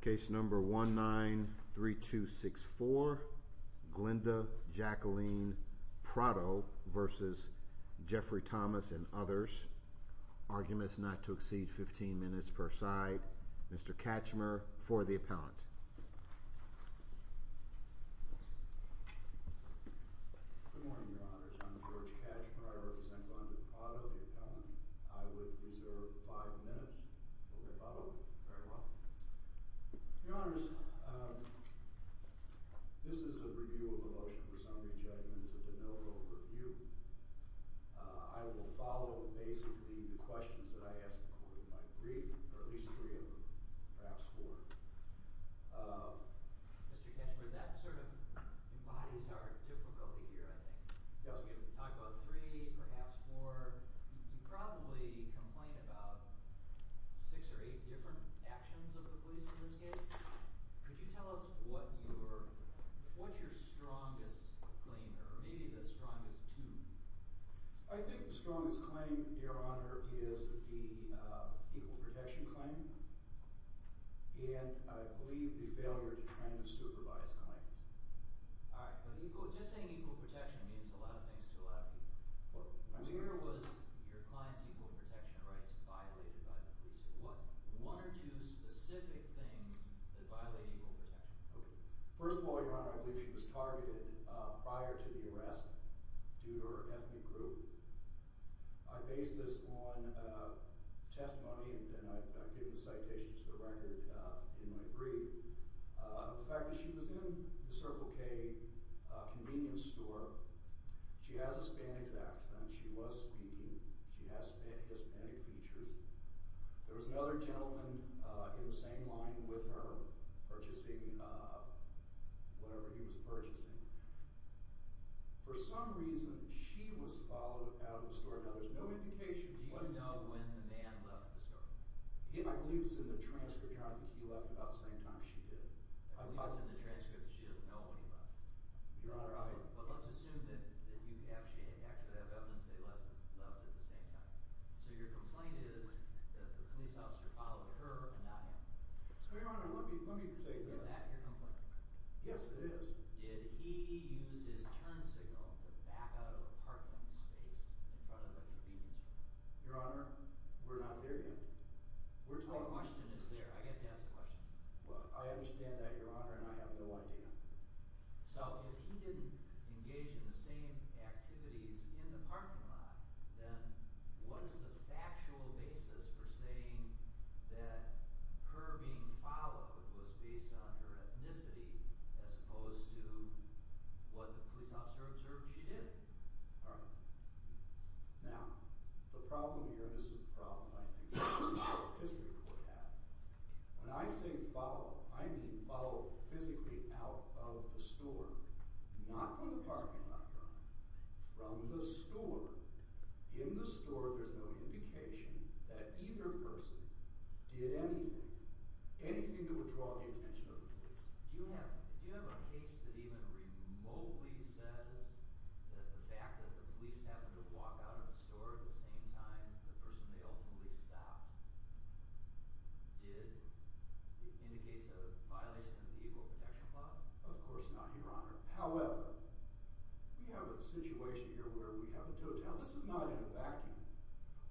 Case number 19-3264, Glenda Jacqueline Prado v. Jeffrey Thomas and others. Arguments not to exceed 15 minutes per side. Mr. Katchmer for the appellant. Good morning, Your Honors. I'm George Katchmer. I represent Rhonda Prado, the appellant. I would reserve five minutes. Very well. Your Honors, this is a review of the motion for summary judgment. It's a de novo review. I will follow basically the questions that I asked according to my brief, or at least three of them, perhaps four. Mr. Katchmer, that sort of embodies our difficulty here, I think. Yes. Talking about three, perhaps four, you could probably complain about six or eight different actions of the police in this case. Could you tell us what's your strongest claim, or maybe the strongest two? I think the strongest claim, Your Honor, is the equal protection claim. And I believe the failure to train the supervised clients. All right. Just saying equal protection means a lot of things to a lot of people. Where was your client's equal protection rights violated by the police? One or two specific things that violate equal protection. Okay. First of all, Your Honor, I believe she was targeted prior to the arrest due to her ethnic group. I base this on testimony, and I've given citations to the record in my brief. The fact that she was in the Circle K convenience store. She has a Spanish accent. She was speaking. She has Hispanic features. There was another gentleman in the same line with her, purchasing whatever he was purchasing. For some reason, she was followed out of the store. Now, there's no indication. Do you know when the man left the store? I believe it was in the transfer counter. I don't think he left about the same time she did. It was in the transcript. She doesn't know when he left. Your Honor, I... Well, let's assume that you actually have evidence they left at the same time. So your complaint is that the police officer followed her and not him. So, Your Honor, let me say this. Is that your complaint? Yes, it is. Did he use his turn signal to back out of a parking space in front of a convenience store? Your Honor, we're not there yet. My question is there. I get to ask the question. Well, I understand that, Your Honor, and I have no idea. So, if he didn't engage in the same activities in the parking lot, then what is the factual basis for saying that her being followed was based on her ethnicity as opposed to what the police officer observed she did? All right. Now, the problem here, and this is the problem I think the District Court had, when I say follow, I mean follow physically out of the store, not from the parking lot, Your Honor, from the store. In the store, there's no indication that either person did anything, anything that would draw the attention of the police. Do you have a case that even remotely says that the fact that the police happened to walk out of a store at the same time the person they ultimately stopped did indicates a violation of the Equal Protection Law? Of course not, Your Honor. However, we have a situation here where we have a total. This is not in a vacuum.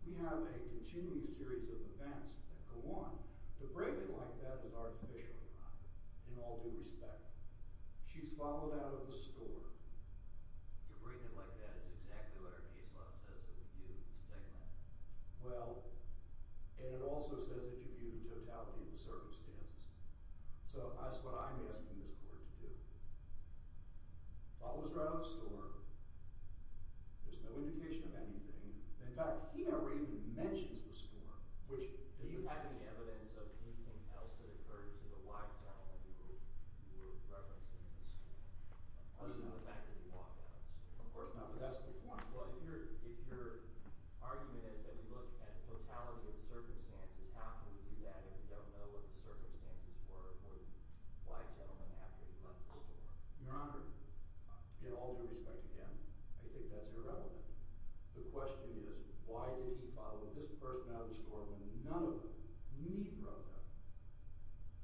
We have a continuing series of events that go on. To bring it like that is artificial, Your Honor, in all due respect. She's followed out of the store. To bring it like that is exactly what our case law says that we do. We second that. Well, and it also says that you view the totality of the circumstances. So that's what I'm asking this Court to do. Follows her out of the store. There's no indication of anything. In fact, he never even mentions the store. Do you have any evidence of anything else that occurred to the white gentleman you were referencing in this case? Other than the fact that he walked out of the store. Of course not, but that's the point. Well, if your argument is that we look at the totality of the circumstances, how can we do that if we don't know what the circumstances were for the white gentleman after he left the store? Your Honor, in all due respect again, I think that's irrelevant. The question is why did he follow this person out of the store when none of them, neither of them,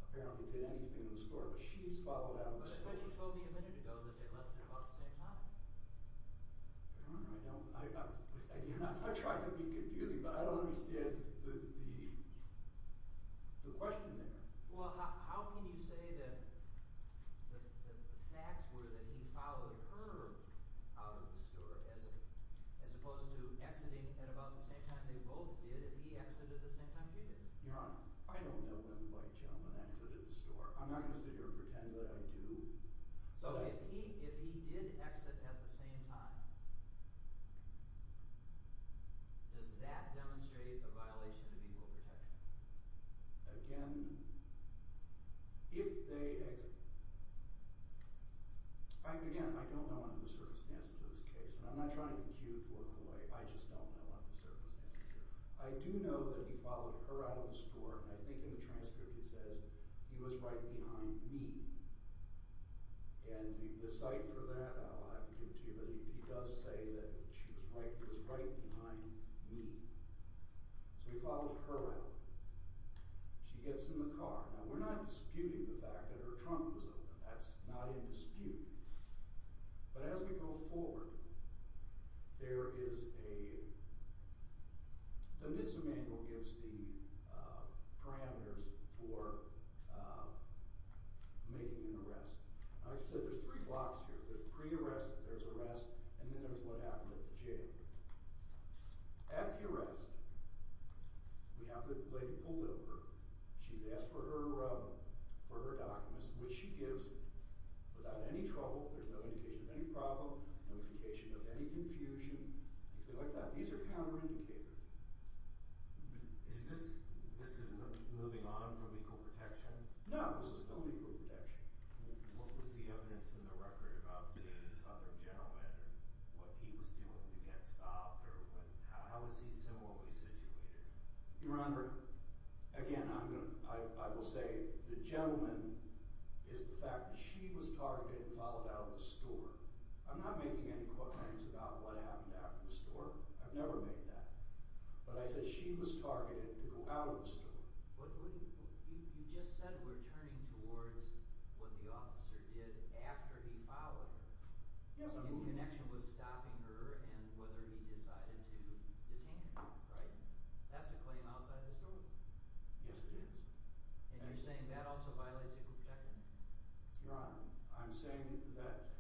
apparently did anything in the store, but she's followed out of the store. But she told me a minute ago that they left at about the same time. Your Honor, I don't – I try to be confusing, but I don't understand the question there. Well, how can you say that the facts were that he followed her out of the store as opposed to exiting at about the same time they both did if he exited at the same time she did? Your Honor, I don't know when the white gentleman exited the store. I'm not going to sit here and pretend that I do. So if he did exit at the same time, does that demonstrate a violation of equal protection? Again, if they exited – again, I don't know under the circumstances of this case, and I'm not trying to queue for a boy. I just don't know under the circumstances here. I do know that he followed her out of the store, and I think in the transcript he says he was right behind me. And the cite for that I'll have to give it to you, but he does say that she was right behind me. So he followed her out. She gets in the car. Now, we're not disputing the fact that her trunk was open. That's not in dispute. But as we go forward, there is a – the NISA manual gives the parameters for making an arrest. Like I said, there's three blocks here. There's pre-arrest, there's arrest, and then there's what happened at the jail. At the arrest, we have the lady pulled over. She's asked for her documents, which she gives without any trouble. There's no indication of any problem, notification of any confusion, anything like that. These are counterindicators. Is this – this isn't moving on from equal protection? No, this is still equal protection. What was the evidence in the record about the other gentleman and what he was doing to get stopped, or what – how is he similarly situated? Your Honor, again, I'm going to – I will say the gentleman is the fact that she was targeted and followed out of the store. I'm not making any claims about what happened after the store. I've never made that. But I said she was targeted to go out of the store. But you just said we're turning towards what the officer did after he followed her. Yes, I'm moving – In connection with stopping her and whether he decided to detain her, right? That's a claim outside the store. Yes, it is. And you're saying that also violates equal protection? Your Honor, I'm saying that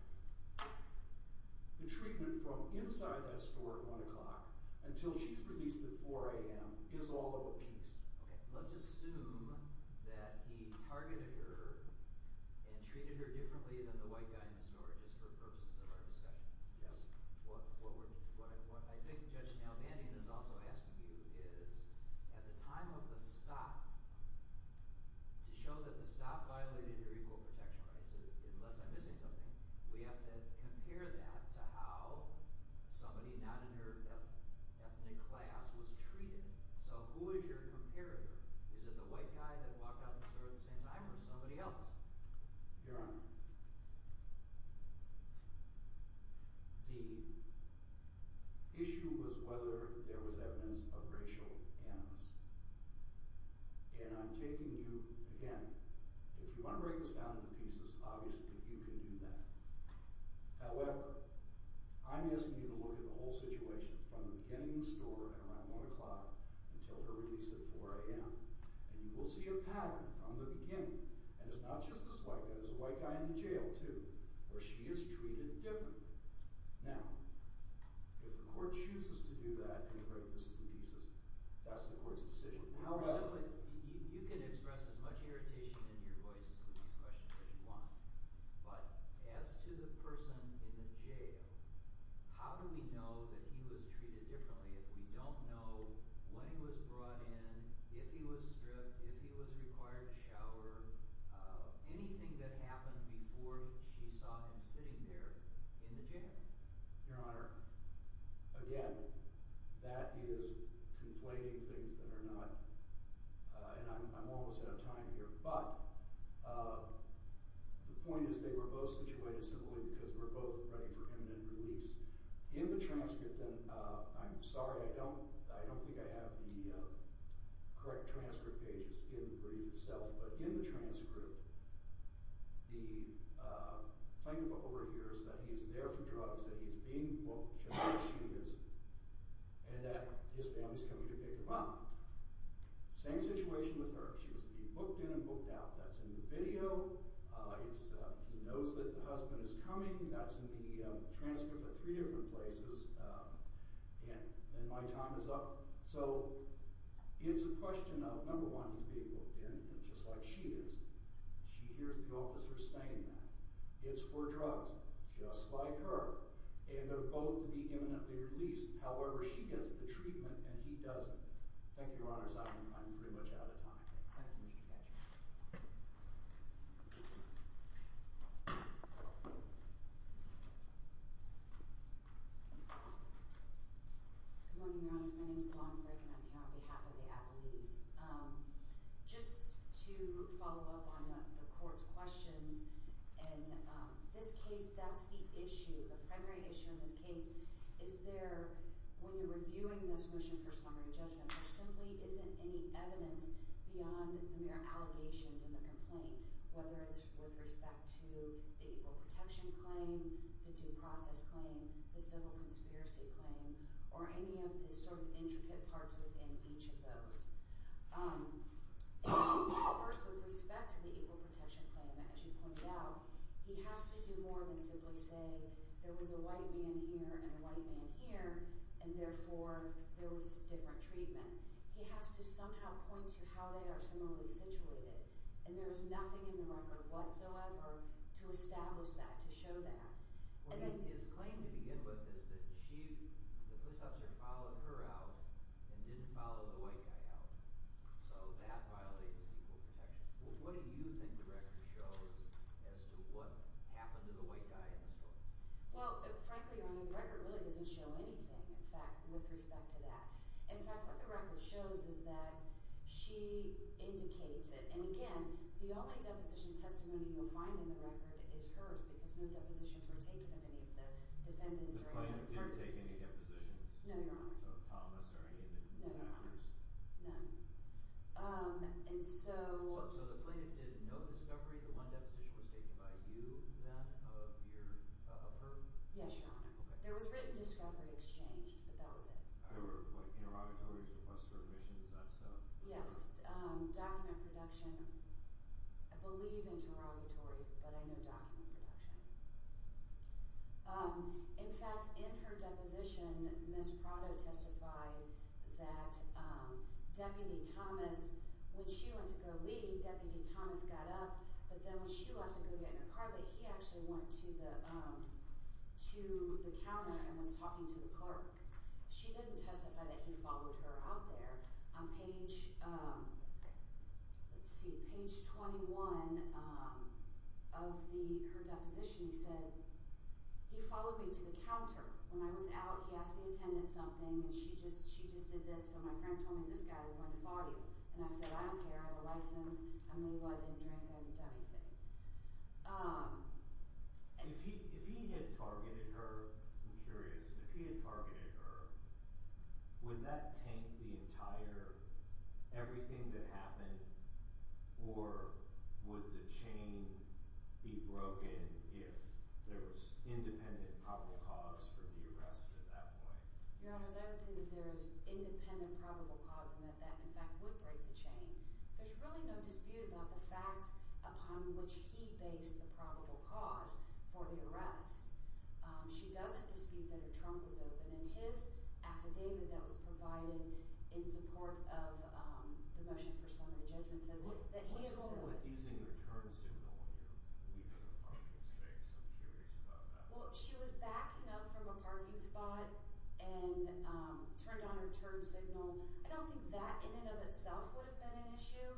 the treatment from inside that store at 1 o'clock until she's released at 4 a.m. is all of a piece. Okay. Let's assume that he targeted her and treated her differently than the white guy in the store just for purposes of our discussion. Yes. What we're – what I think Judge Nelvandian is also asking you is, at the time of the stop, to show that the stop violated your equal protection rights, unless I'm missing something, we have to compare that to how somebody not in her ethnic class was treated. So who is your comparator? Is it the white guy that walked out of the store at the same time or somebody else? Your Honor, the issue was whether there was evidence of racial animus. And I'm taking you – again, if you want to break this down into pieces, obviously you can do that. However, I'm asking you to look at the whole situation from the beginning of the store at around 1 o'clock until her release at 4 a.m. And you will see a pattern from the beginning. And it's not just this white guy. There's a white guy in the jail, too, where she is treated differently. Now, if the court chooses to do that and break this into pieces, that's the court's decision. However – You can express as much irritation in your voice with these questions as you want. But as to the person in the jail, how do we know that he was treated differently if we don't know when he was brought in, if he was stripped, if he was required to shower, anything that happened before she saw him sitting there in the jail? Your Honor, again, that is conflating things that are not – and I'm almost out of time here. But the point is they were both situated simply because we're both ready for imminent release. In the transcript – and I'm sorry, I don't think I have the correct transcript pages in the brief itself. But in the transcript, the plaintiff overhears that he is there for drugs, that he is being booked just like she is, and that his family is coming to pick him up. Same situation with her. She was being booked in and booked out. That's in the video. He knows that the husband is coming. That's in the transcript at three different places. And my time is up. So it's a question of, number one, he's being booked in just like she is. She hears the officer saying that. It's for drugs, just like her. And they're both to be imminently released. However, she gets the treatment and he doesn't. Thank you, Your Honor. I'm pretty much out of time. Thank you, Mr. Katchen. Good morning, Your Honor. My name is Alana Frake and I'm here on behalf of the apologies. Just to follow up on the court's questions, in this case, that's the issue. The primary issue in this case is there, when you're reviewing this motion for summary judgment, there simply isn't any evidence beyond the mere allegations in the complaint, whether it's with respect to the Equal Protection Claim, the Due Process Claim, the Civil Conspiracy Claim, or any of the sort of intricate parts within each of those. First, with respect to the Equal Protection Claim, as you pointed out, he has to do more than simply say, there was a white man here and a white man here, and therefore, there was different treatment. He has to somehow point to how they are similarly situated. There is nothing in the record whatsoever to establish that, to show that. His claim to begin with is that the police officer followed her out and didn't follow the white guy out, so that violates Equal Protection. What do you think the record shows as to what happened to the white guy in the story? Well, frankly, Your Honor, the record really doesn't show anything, in fact, with respect to that. In fact, what the record shows is that she indicates it, and again, the only deposition testimony you'll find in the record is hers, because no depositions were taken of any of the defendants or any of the persons. The plaintiff didn't take any depositions? No, Your Honor. Of Thomas or any of the others? No, Your Honor. None. And so... So the plaintiff did no discovery, the one deposition was taken by you, then, of her? Yes, Your Honor. Okay. There was written discovery exchanged, but that was it. There were, like, interrogatories, requests for admission, is that so? Yes. Document production. I believe interrogatories, but I know document production. In fact, in her deposition, Ms. Prado testified that Deputy Thomas, when she went to go leave, Deputy Thomas got up, but then when she left to go get in her car, he actually went to the counter and was talking to the clerk. She didn't testify that he followed her out there. On page, let's see, page 21 of her deposition, he said, he followed me to the counter. When I was out, he asked the attendant something, and she just did this, so my friend told me, this guy is going to follow you. And I said, I don't care, I have a license, I may what, I didn't drink, I haven't done anything. If he had targeted her, I'm curious, if he had targeted her, would that taint the entire, everything that happened, or would the chain be broken if there was independent probable cause for the arrest at that point? Your Honors, I would say that there is independent probable cause I mean, there's really no dispute about the facts upon which he based the probable cause for the arrest. She doesn't dispute that her trunk was open, and his affidavit that was provided in support of the motion for summary judgment says that he enrolled her. Well, she was backing up from a parking spot and turned on her turn signal. I don't think that, in and of itself, would have been an issue.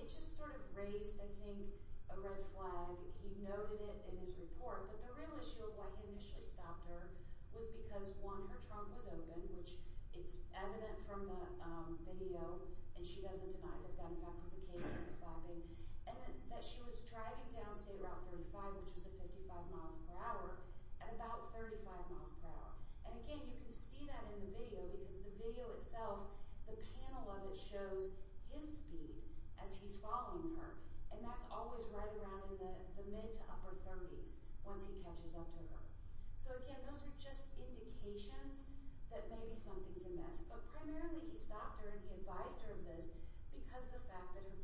It just sort of raised, I think, a red flag. He noted it in his report, but the real issue of why he initially stopped her was because, one, her trunk was open, which is evident from the video, and she doesn't deny that that, in fact, was the case he was backing, and that she was driving down State Route 35, which is at 55 miles per hour, at about 35 miles per hour. And again, you can see that in the video, because the video itself, the panel of it shows his speed as he's following her, and that's always right around in the mid to upper 30s, once he catches up to her. So again, those are just indications that maybe something's amiss. But primarily, he stopped her, and he advised her of this because of the fact that her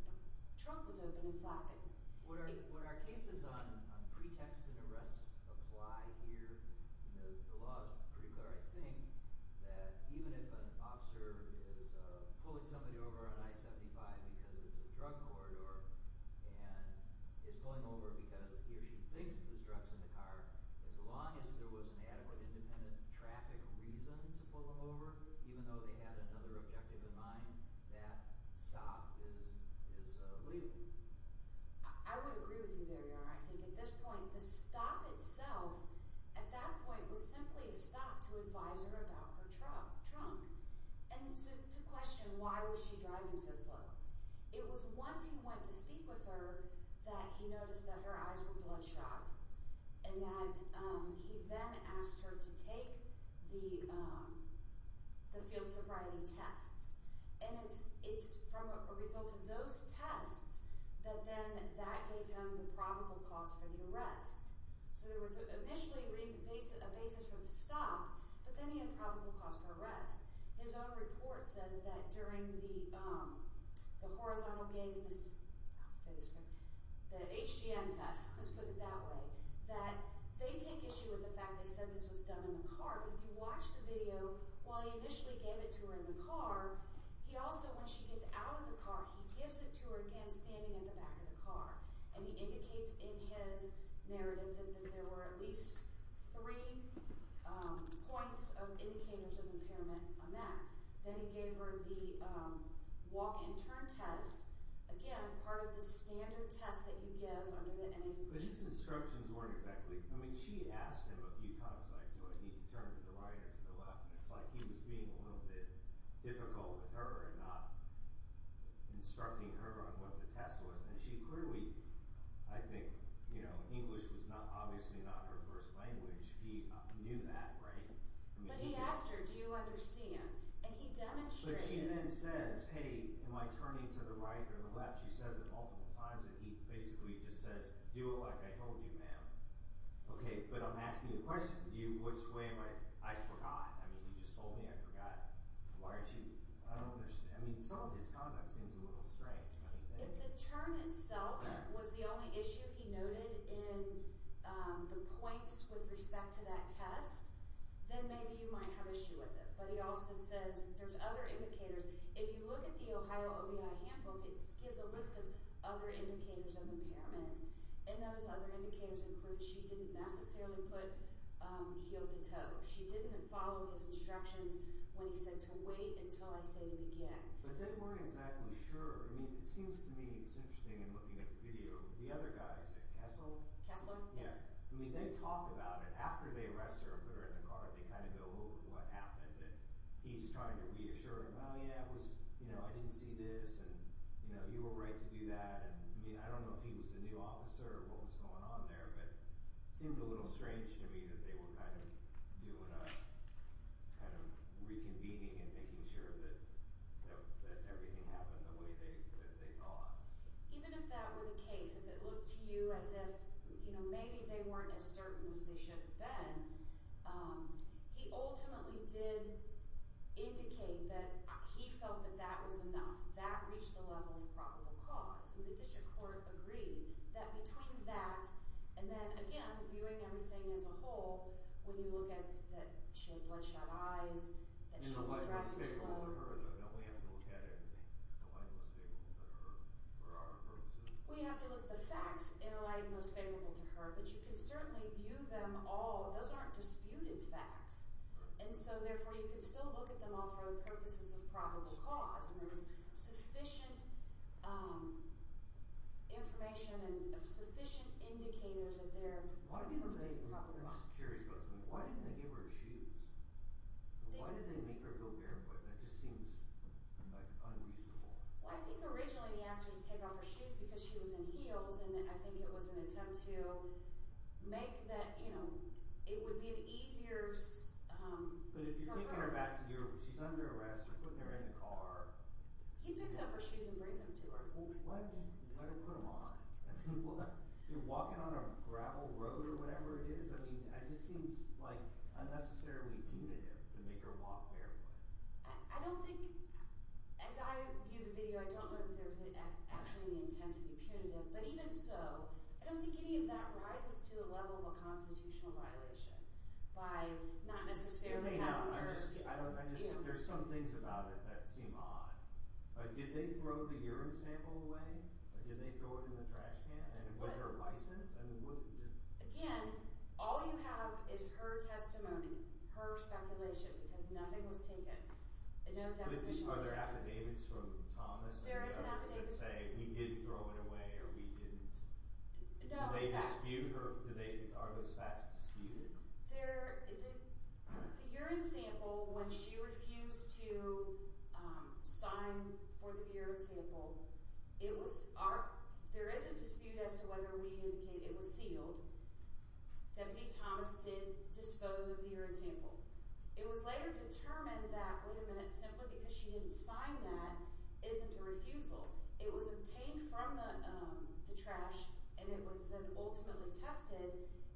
trunk was open and flapping. So would our cases on pretext and arrest apply here? The law is pretty clear, I think, that even if an officer is pulling somebody over on I-75 because it's a drug corridor and is pulling over because he or she thinks there's drugs in the car, as long as there was an adequate independent traffic reason to pull them over, even though they had another objective in mind, that stop is legal. I would agree with you there, Your Honor. I think at this point, the stop itself, at that point, was simply a stop to advise her about her trunk and to question why was she driving so slow. It was once he went to speak with her that he noticed that her eyes were bloodshot and that he then asked her to take the field sobriety tests. And it's from a result of those tests that then that gave him the probable cause for the arrest. So there was initially a basis for the stop, but then he had probable cause for arrest. His own report says that during the horizontal gaze... I'll say this... the HGM test, let's put it that way, that they take issue with the fact that they said this was done in the car, but if you watch the video, while he initially gave it to her in the car, he also, when she gets out of the car, he gives it to her again standing in the back of the car. And he indicates in his narrative that there were at least three points of indicators of impairment on that. Then he gave her the walk-and-turn test, again, part of the standard test that you give under the... But his instructions weren't exactly... I mean, she asked him a few times, like, do I need to turn to the right or to the left? And it's like he was being a little bit difficult with her and not instructing her on what the test was. And she clearly... I think, you know, English was obviously not her first language. He knew that, right? But he asked her, do you understand? And he demonstrated... But she then says, hey, am I turning to the right or the left? She says it multiple times, and he basically just says, do it like I told you, ma'am. OK, but I'm asking you a question. Which way am I... I forgot. I mean, you just told me I forgot. Why aren't you... I don't understand. I mean, some of this conduct seems a little strange. If the turn itself was the only issue he noted in the points with respect to that test, then maybe you might have issue with it. But he also says there's other indicators. If you look at the Ohio OVI handbook, it gives a list of other indicators of impairment. And those other indicators include she didn't necessarily put heel to toe. She didn't follow his instructions when he said to wait until I say to begin. But they weren't exactly sure. I mean, it seems to me, it's interesting in looking at the video, the other guys at Kessler... Kessler, yes. I mean, they talk about it. After they arrest her and put her in the car, they kind of go over what happened. He's trying to reassure her, well, yeah, it was, you know, I didn't see this, and, you know, you were right to do that. I mean, I don't know if he was the new officer or what was going on there, but it seemed a little strange to me that they were kind of doing a kind of reconvening and making sure that everything happened the way that they thought. Even if that were the case, if it looked to you as if, you know, maybe they weren't as certain as they should have been, he ultimately did indicate that he felt that that was enough. That reached the level of probable cause. And the district court agreed that between that and then, again, viewing everything as a whole, when you look at that she had bloodshot eyes, that she was driving slow... In the light most favorable to her, though, don't we have to look at it in the light most favorable to her for our purposes? We have to look at the facts in the light most favorable to her, but you can certainly view them all. Those aren't disputed facts. And so, therefore, you can still look at them all for the purposes of probable cause, and there was sufficient information and sufficient indicators of their purposes of probable cause. I'm just curious about something. Why didn't they give her shoes? Why did they make her go barefoot? That just seems, like, unreasonable. Well, I think originally he asked her to take off her shoes because she was in heels, and I think it was an attempt to make that, you know, it would be an easier... But if you're taking her back to Europe, she's under arrest, they put her in a car... He picks up her shoes and brings them to her. Well, why didn't he put them on? I mean, what? You're walking on a gravel road or whatever it is. I mean, that just seems, like, unnecessarily punitive to make her walk barefoot. I don't think... As I view the video, I don't know that there was actually any intent to be punitive, I don't think any of that rises to the level of a constitutional violation by not necessarily having her... It may not. There's some things about it that seem odd. Did they throw the urine sample away? Did they throw it in the trash can? Was there a license? Again, all you have is her testimony, her speculation, because nothing was taken. Are there affidavits from Thomas? There is an affidavit. That say, we did throw it away, or we didn't... No. Do they dispute her... Are those facts disputed? There... The urine sample, when she refused to sign for the urine sample, it was... There is a dispute as to whether we indicated it was sealed. Deputy Thomas did dispose of the urine sample. It was later determined that, wait a minute, simply because she didn't sign that isn't a refusal. It was obtained from the trash, and it was then ultimately tested.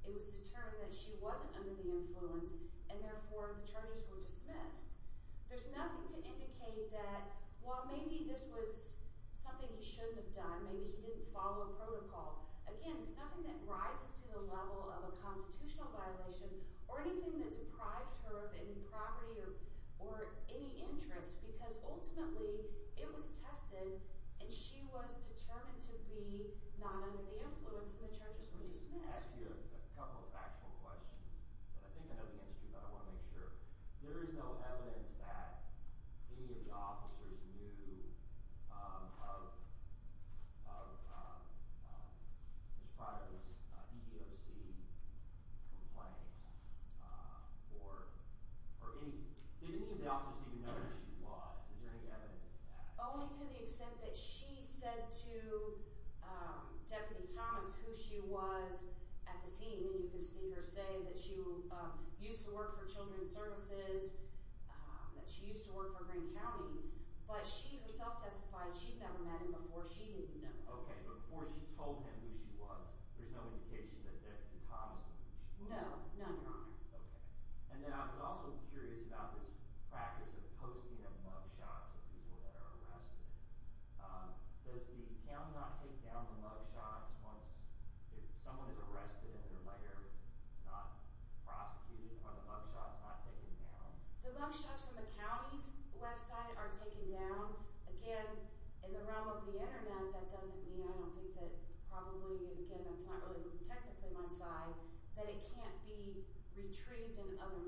It was determined that she wasn't under the influence, and therefore, the charges were dismissed. There's nothing to indicate that, well, maybe this was something he shouldn't have done. Maybe he didn't follow a protocol. Again, it's nothing that rises to the level of a constitutional violation, or anything that deprived her of any property or any interest, because ultimately, it was tested, and she was determined to be not under the influence, and the charges were dismissed. I want to ask you a couple of factual questions, but I think I know the answer to you, but I want to make sure. There is no evidence that any of the officers knew of of of this product, this EEOC complaint, or or any... Did any of the officers even know who she was? Is there any evidence of that? Only to the extent that she said to Deputy Thomas who she was at the scene, and you can see her say that she used to work for Children's Services, that she used to work for Grand County, but she herself testified she'd never met him before, she didn't know. Okay, but before she told him who she was, there's no indication that Deputy Thomas knew who she was? No, no, Your Honor. Okay. And then, I was also curious about this practice of posting of mugshots of people that are arrested. Does the county not take down the mugshots once if someone is arrested and they're later not prosecuted are the mugshots not taken down? The mugshots from the county's website are taken down. Again, in the realm of the internet, that doesn't mean I don't think that probably, again, that's not really technically my side, that it can't be retrieved in other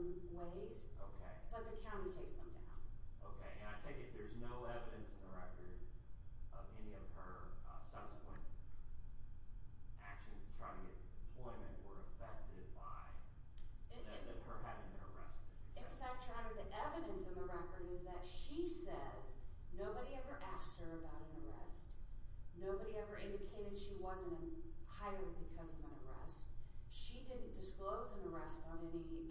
ways. Okay. But the county takes them down. Okay, and I take it there's no evidence in the record of any of her subsequent actions to try to get employment were affected by her having been arrested? In fact, Your Honor, the evidence in the record is that she says nobody ever asked her about an arrest, nobody ever indicated she wasn't hired because of an arrest, she didn't disclose an arrest on any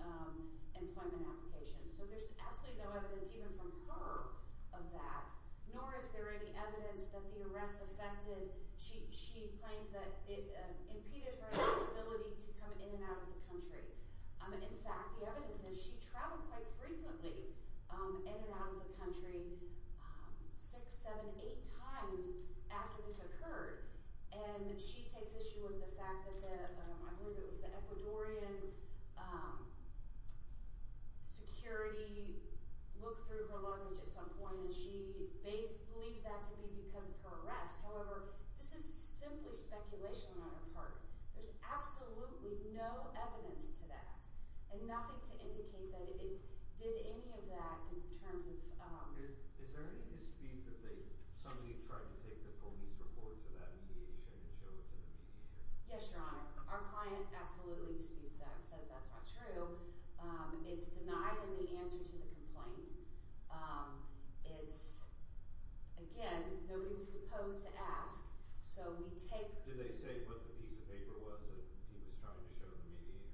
employment application. So there's absolutely no evidence even from her of that, nor is there any evidence that the arrest affected, she claims that it impeded her ability to come in and out of the country. In fact, the evidence is she traveled quite frequently in and out of the country six, seven, eight times after this occurred and she takes issue with the fact that the, I believe it was the Ecuadorian security looked through her luggage at some point and she believes that to be because of her arrest. However, this is simply speculation on her part. There's absolutely no evidence to that and nothing to indicate that it did any of that in terms of Is there any dispute that somebody tried to take the police report to that mediation and show it to the mediator? Yes, Your Honor. Our client absolutely disputes that and says that's not true. It's denied in the answer to the complaint. It's again, nobody was supposed to ask so we take Did they say what the piece of paper was that he was trying to show the mediator?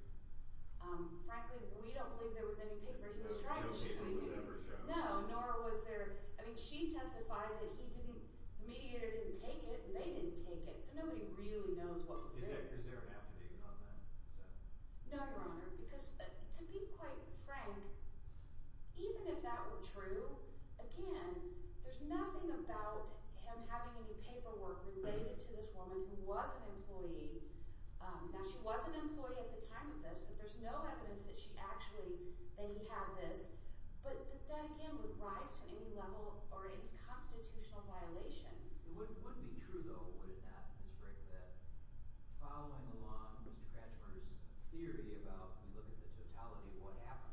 Frankly, we don't believe there was any paper he was trying to show. No, nor was there I mean, she testified that he didn't The mediator didn't take it and they didn't take it so nobody really knows what was there. Is there an affidavit on that? No, Your Honor, because to be quite frank even if that were true again, there's nothing about him having any paperwork related to this woman who was an employee Now, she was an employee at the time of this but there's no evidence that she actually that he had this but that again would rise to any level or any constitutional violation It would be true though would it not Ms. Frick that following along Mr. Kratzmer's theory about when you look at the totality of what happened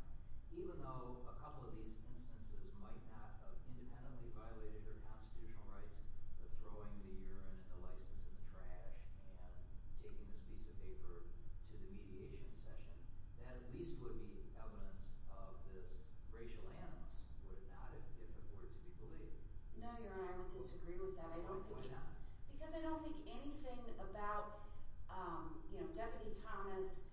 even though a couple of these instances might not have independently violated their constitutional rights but throwing the urine and the license in the trash and taking this piece of paper to the mediation session that at least would be evidence of this racial animus would it not if it were to be believed? No, Your Honor, I would disagree with that I don't think Why not? Because I don't think anything about Deputy Thomas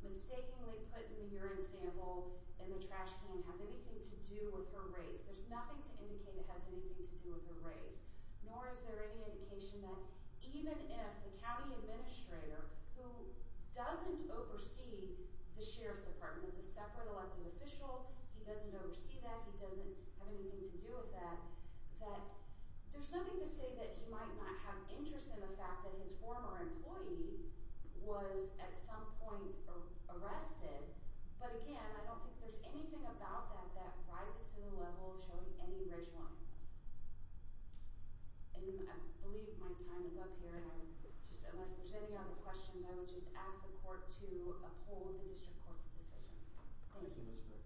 mistakenly put in the urine sample in the trash can has anything to do with her race There's nothing to indicate it has anything to do with her race Nor is there any indication that even if the county administrator who doesn't oversee the Sheriff's Department that's a separate elected official he doesn't oversee that he doesn't have anything to do with that that there's nothing to say that he might not have interest in the fact that his former employee was at some point arrested but again I don't think there's anything about that that rises to the level of showing any racial animus I believe my time is up here unless there's any other questions I would just ask the court to uphold the district court's decision Thank you, Your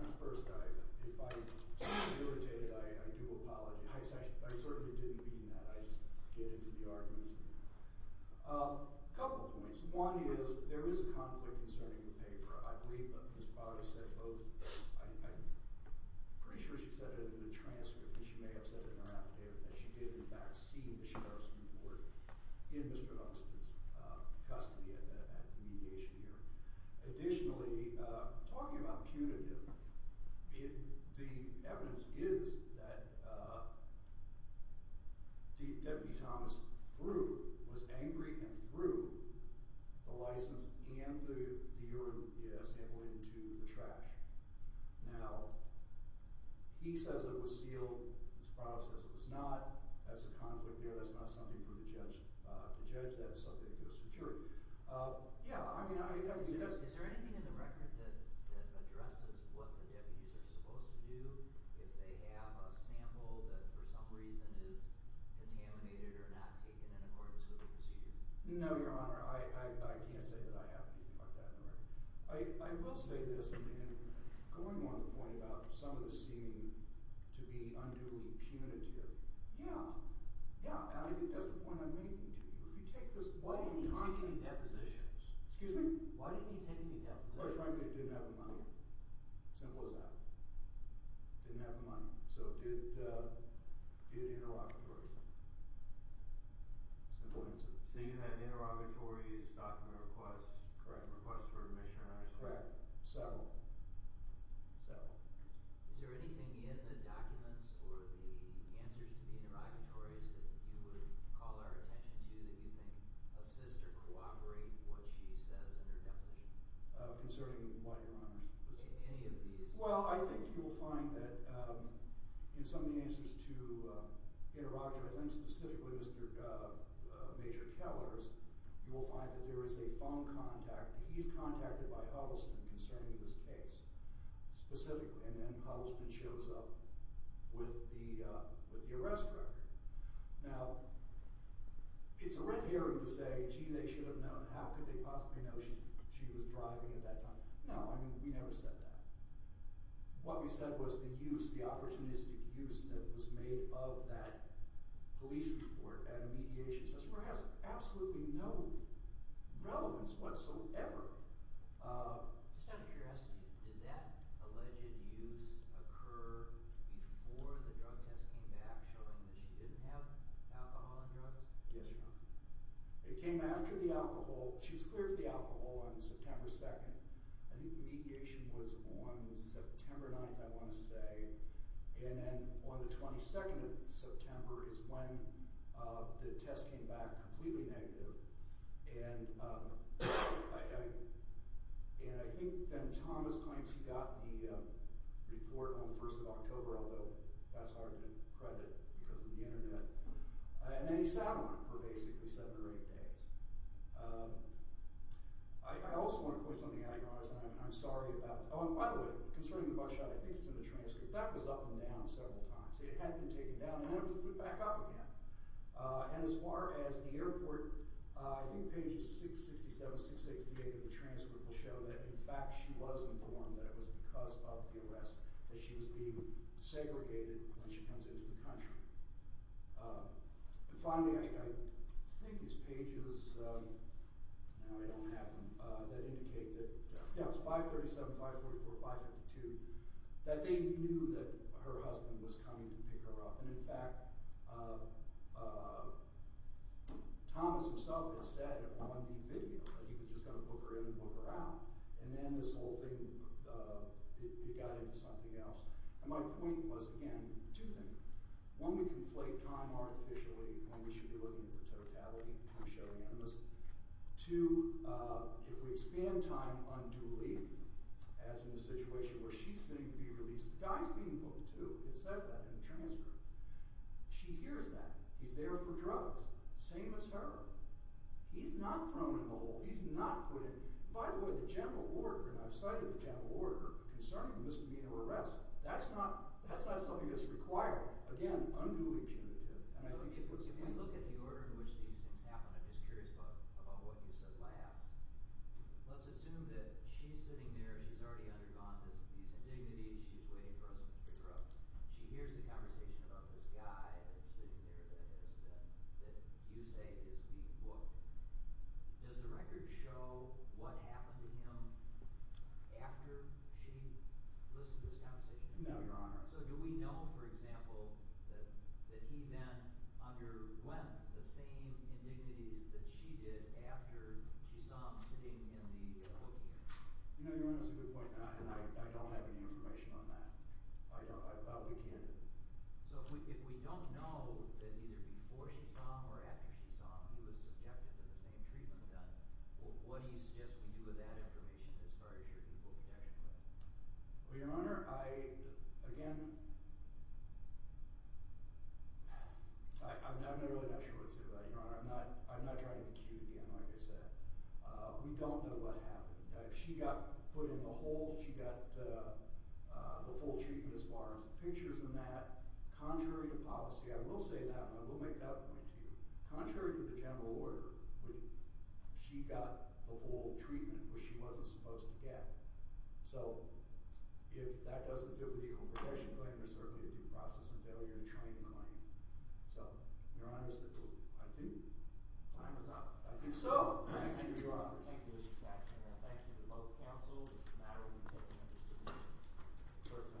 Honor first if I seem irritated I do apologize I certainly didn't mean that I just get into the arguments a couple points one is there is a conflict concerning the paper I believe that Ms. Potter said both I'm pretty sure she said it in the transcript and she may have said it in her affidavit that she did in fact see the Sheriff's report in Mr. Holmstead's custody at the mediation here additionally talking about punitive the evidence is that Deputy Thomas threw was angry and threw the license and the urine sample into the trash now he says it was sealed his brother says it was not that's a conflict that's not something for the judge to judge that's something to secure yeah is there anything in the record that addresses what the deputies are supposed to do if they have a sample that for some reason is contaminated or not taken in accordance with the procedure no your honor I can't say that I have anything like that in the record I will say this going on the point about some of the seeming to be unduly punitive yeah yeah and I think that's the point I'm making to you why didn't he take any depositions excuse me why didn't he take any depositions he didn't have the money simple as that didn't have the money so did did interrogatories simple answer so you had interrogatories document requests correct requests for admission correct settled settled is there anything in the documents or the answers to the interrogatories that you would call our attention to that you think assist or cooperate what she says in her deposition concerning what your honor any of these well I think you will find that in some of the answers to interrogatories and specifically Mr. Major Kellers you will find that there is a phone contact he's contacted by Huddleston concerning this case specifically and then Huddleston shows up with the with the arrest record now it's a red herring to say gee they should have known how could they possibly know she was driving at that time no I mean we never said that what we said was the use the opportunistic use that was made of that police report and mediation has absolutely no relevance whatsoever just out of curiosity did that alleged use occur before the drug test came back showing that she didn't have alcohol and drugs yes your honor it came after the alcohol she was cleared for the alcohol on September 2nd I think the mediation was on September 9th I want to say and then on the 22nd of September is when the test came back completely negative and I I and I think then Thomas claims he got the report on the 1st of October although that's hard to credit because of the internet and then he sat on it for basically 7 or 8 days I also want to point something out your honor I'm sorry about the oh by the way concerning the buckshot I think it's in the transcript that was up and down several times it had been 67, 66, 68 of the transcript will show that in fact she was informed that it was because of the arrest that she was being segregated when she comes into the country and finally I think these pages now I don't have them that indicate that yeah it was 537, 544, 552 that they knew that her husband was coming to pick her up and in fact Thomas himself had said on the video that he was just going to book her in and book her out and then this whole thing it got into something else and my point was again two things one we conflate time artificially when we should be looking at the totality to show the intimacy two if we expand time unduly as in the situation where she's sitting to be released the guy's being booked too it says that in the transcript she hears that he's there for drugs same as her he's not thrown in the hole he's not put in by the way the general order and I've cited the general order concerning the misdemeanor arrest that's not something that's required again unduly punitive and I think if we look at the order in which these things happen I'm just curious about what you said last let's assume that she's sitting there she's already undergone these indignities she's waiting for us to pick her up she hears the conversation about this guy that's sitting there that you say is being booked does the record show what happened to him after she listed this conversation so do we know for example that he then underwent the same indignities that she did after she saw him sitting in the booking you know your honor that's a good point and I don't have any information on that I'll begin so if we don't know that either before she saw him or after she saw him he was subjected to the same treatment then what do you suggest we do with that information as far as your equal protection claim well your honor I again I'm not really not sure what to say about that she got put in the hole she got the full treatment as far as pictures and that contrary to policy I will say that and I will make that point to you contrary to the general order she got the full treatment which she wasn't supposed to get so if that doesn't make sense thank you Mr. Baxter for both counsel clerk may adjourn Baxter Thank you to both counsel it's a matter we take into consideration clerk may adjourn Thank you Mr. Baxter Thank you clerk may